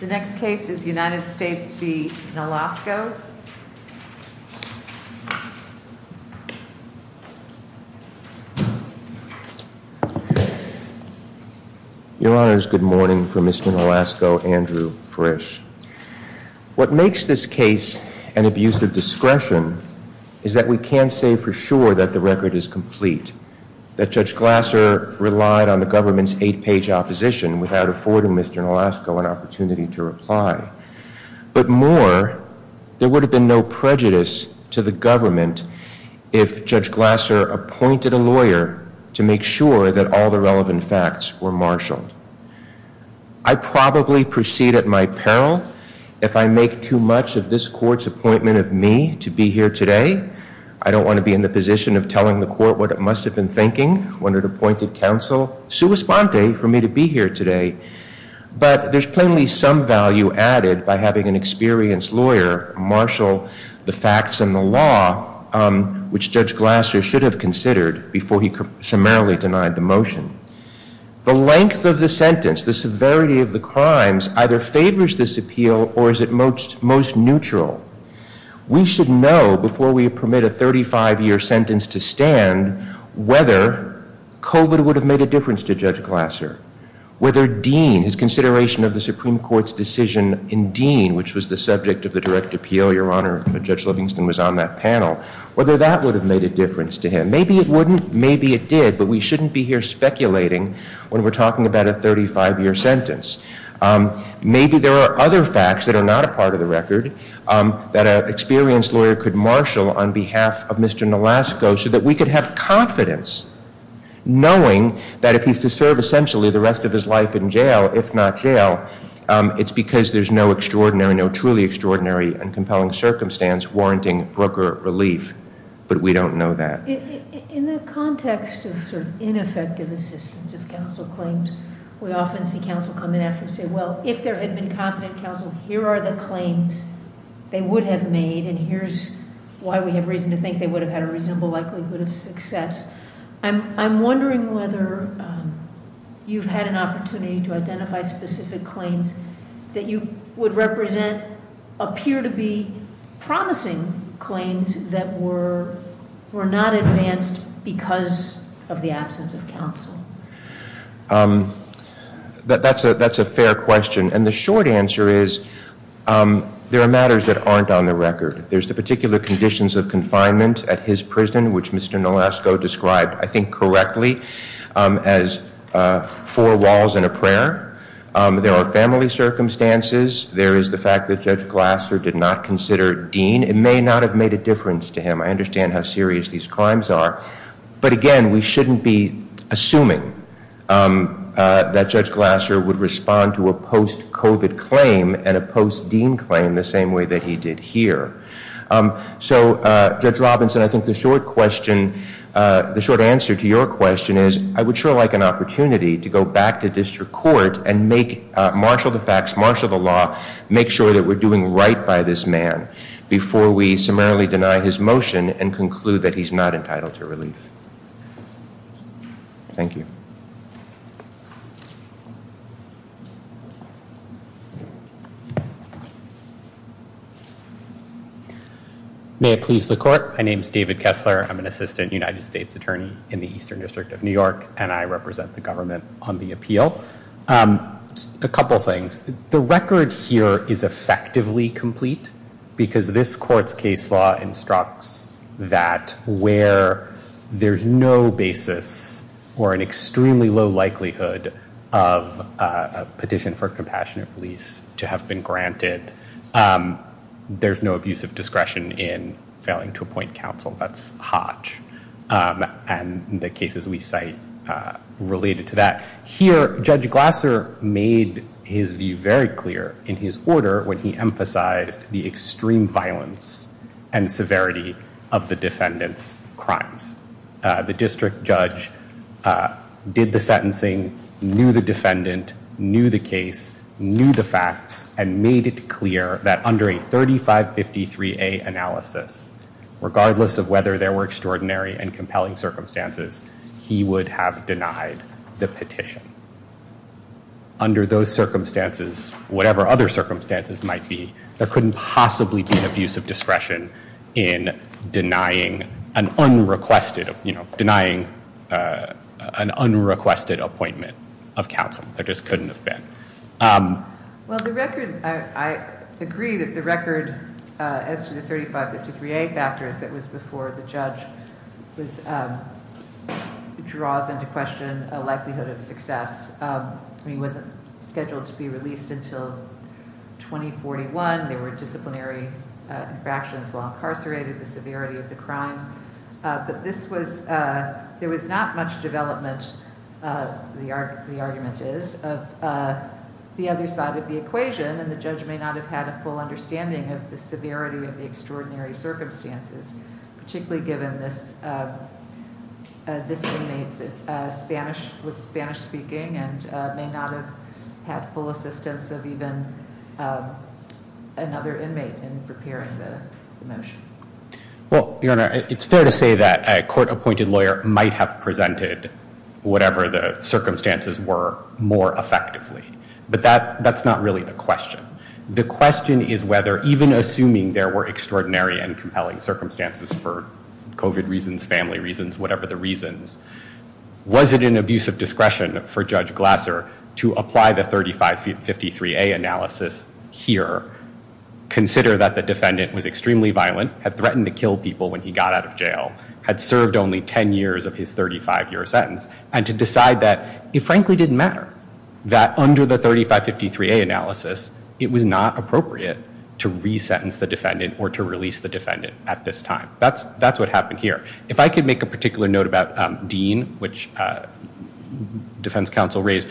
The next case is United States v. Nolasco. Your honors, good morning from Mr. Nolasco, Andrew Frisch. What makes this case an abuse of discretion is that we can't say for sure that the record is complete, that Judge Glasser relied on the government's eight-page opposition without affording Mr. Nolasco an opportunity to reply. But more, there would have been no prejudice to the government if Judge Glasser appointed a lawyer to make sure that all the relevant facts were marshaled. I probably proceed at my peril if I make too much of this court's appointment of me to be here today. I don't want to be in the position of telling the court what it must have been thinking when it appointed counsel sua sponte for me to be here today. But there's plainly some value added by having an experienced lawyer marshal the facts and the law which Judge Glasser should have considered before he summarily denied the motion. The length of the sentence, the severity of the crimes, either favors this appeal or is it most neutral. We should know before we permit a 35-year sentence to stand whether COVID would have made a difference to Judge Glasser, whether Dean, his consideration of the Supreme Court's decision in Dean, which was the subject of the direct appeal, Your Honor, when Judge Livingston was on that panel, whether that would have made a difference to him. Maybe it wouldn't, maybe it did, but we shouldn't be here speculating when we're talking about a 35-year sentence. Maybe there are other facts that are not a part of the record that an experienced lawyer could marshal on behalf of Mr. Nolasco so that we could have confidence knowing that if he's to serve essentially the rest of his life in jail, if not jail, it's because there's no extraordinary, no truly extraordinary and compelling circumstance warranting broker relief. But we don't know that. In the context of sort of ineffective assistance if counsel claimed, we often see counsel come in after and say, well, if there had been competent counsel, here are the claims they would have made, and here's why we have reason to think they would have had a reasonable likelihood of success. I'm wondering whether you've had an opportunity to identify specific claims that you would represent appear to be promising claims that were not advanced because of the absence of counsel. That's a fair question, and the short answer is there are matters that aren't on the record. There's the particular conditions of confinement at his prison, which Mr. Nolasco described, I think correctly, as four walls and a prayer. There are family circumstances. There is the fact that Judge Glasser did not consider Dean. It may not have made a difference to him. I understand how serious these crimes are, but again, we shouldn't be assuming that Judge Glasser would respond to a post-COVID claim and a post-Dean claim the same way that he did here. So, Judge Robinson, I think the short question, the short answer to your question is I would sure like an opportunity to go back to district court and make, marshal the facts, marshal the law, make sure that we're doing right by this man before we summarily deny his motion and conclude that he's not entitled to relief. Thank you. May it please the court. My name is David Kessler. I'm an assistant United States attorney in the Eastern District of New York, and I represent the government on the appeal. A couple of things. The record here is effectively complete because this court's case law instructs that where there's no basis or an extremely low likelihood of a petition for compassionate release to have been granted, there's no abusive discretion in failing to made his view very clear in his order when he emphasized the extreme violence and severity of the defendant's crimes. The district judge did the sentencing, knew the defendant, knew the case, knew the facts, and made it clear that under a 3553A analysis, regardless of whether there were extraordinary and compelling circumstances, he would have denied the petition. Under those circumstances, whatever other circumstances might be, there couldn't possibly be an abuse of discretion in denying an unrequested, you know, denying an unrequested appointment of counsel. There just couldn't have been. Well, the record, I agree that the record as to the 3553A factors that was before the judge was draws into question a likelihood of success. I mean, it wasn't scheduled to be released until 2041. There were disciplinary infractions while incarcerated, the severity of the crimes, but this was, there was not much development, the argument is, of the other side of the equation, and the judge may not have had a full understanding of the severity of the this inmate's Spanish, with Spanish speaking, and may not have had full assistance of even another inmate in preparing the motion. Well, Your Honor, it's fair to say that a court-appointed lawyer might have presented whatever the circumstances were more effectively, but that that's not really the question. The question is whether, even assuming there were extraordinary and compelling circumstances for COVID reasons, family reasons, whatever the reasons, was it an abuse of discretion for Judge Glasser to apply the 3553A analysis here, consider that the defendant was extremely violent, had threatened to kill people when he got out of jail, had served only 10 years of his 35-year sentence, and to decide that it frankly didn't matter, that under the 3553A analysis, it was not appropriate to re-sentence the defendant or to release the defendant at this time. That's what happened here. If I could make a particular note about Dean, which defense counsel raised,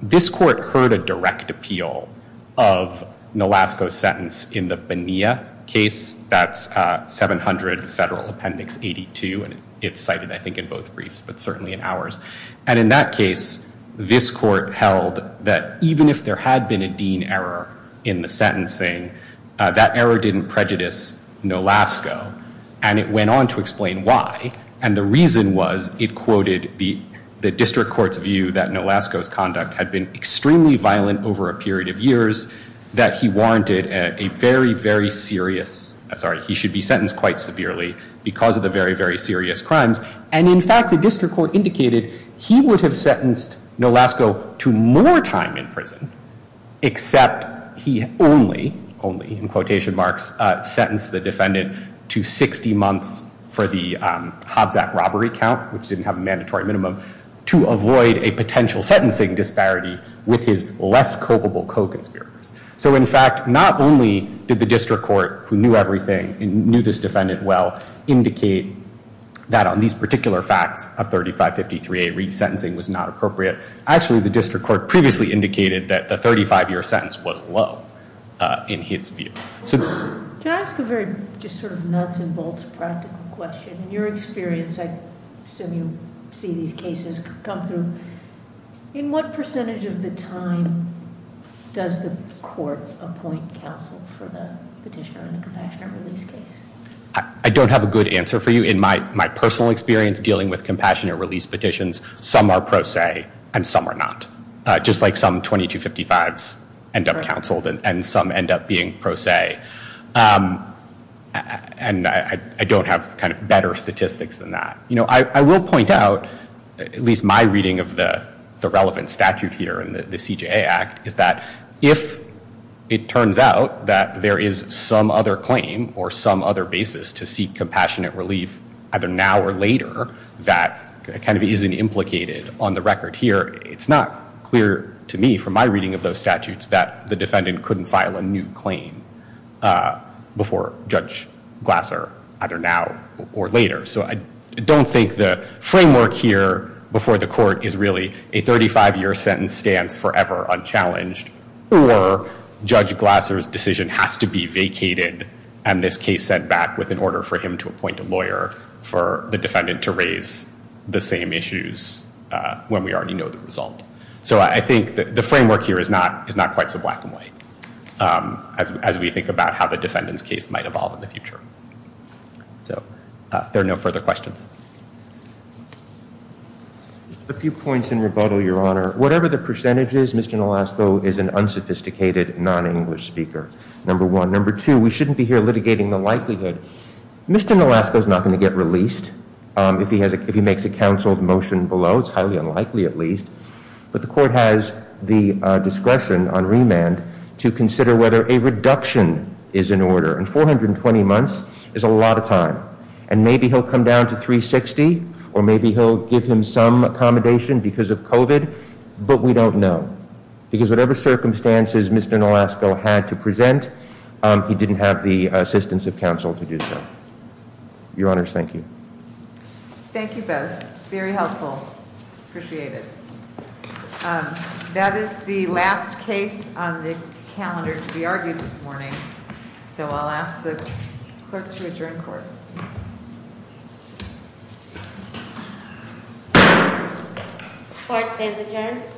this court heard a direct appeal of Nolasco's sentence in the Bonilla case, that's 700 Federal Appendix 82, and it's cited, I think, in both briefs, but certainly in ours. And in that case, this court held that even if there had been a Dean error in the sentencing, that error didn't prejudice Nolasco, and it went on to explain why. And the reason was it quoted the district court's view that Nolasco's conduct had been extremely violent over a period of years, that he warranted a very, very serious, sorry, he should be sentenced quite severely because of the very, very serious crimes. And in fact, the district court indicated he would have sentenced Nolasco to more time in prison, except he only, only, in quotation marks, sentenced the defendant to 60 months for the Hobbs Act robbery count, which didn't have a mandatory minimum, to avoid a potential sentencing disparity with his less culpable co-conspirators. So in fact, not only did the district court, who knew everything and knew this defendant well, indicate that on these particular facts, a 3553A resentencing was not appropriate. Actually, the district court previously indicated that the 35-year sentence was low in his view. So can I ask a very, just sort of nuts and bolts practical question? In your experience, I assume you see these cases come through, in what percentage of the time does the court appoint counsel for the defendant? I don't have a good answer for you. In my, my personal experience dealing with compassionate release petitions, some are pro se and some are not. Just like some 2255s end up counseled and some end up being pro se. And I, I don't have kind of better statistics than that. You know, I, I will point out, at least my reading of the, the relevant statute here in the CJA Act, is that if it turns out that there is some other claim or some other basis to seek compassionate relief, either now or later, that kind of isn't implicated on the record here. It's not clear to me from my reading of those statutes that the defendant couldn't file a new claim before Judge Glasser, either now or later. So I don't think the framework here before the court is really a or Judge Glasser's decision has to be vacated and this case sent back with an order for him to appoint a lawyer for the defendant to raise the same issues when we already know the result. So I think that the framework here is not, is not quite so black and white as, as we think about how the defendant's case might evolve in the future. So if there are no further questions. A few points in rebuttal, Your Honor. Whatever the percentage is, Mr. Nolasco is an unsophisticated non-English speaker, number one. Number two, we shouldn't be here litigating the likelihood. Mr. Nolasco is not going to get released if he has, if he makes a counsel motion below. It's highly unlikely, at least, but the court has the discretion on remand to consider whether a reduction is in order. And 420 months is a lot of time and maybe he'll come down to three 60 or maybe he'll give him some accommodation because of COVID. But we don't know because whatever circumstances Mr. Nolasco had to present, he didn't have the assistance of counsel to do so. Your Honor, thank you. Thank you both. Very helpful. Appreciate it. That is the last case on the calendar to be argued this morning. So I'll ask the clerk to adjourn the court. Court stands adjourned.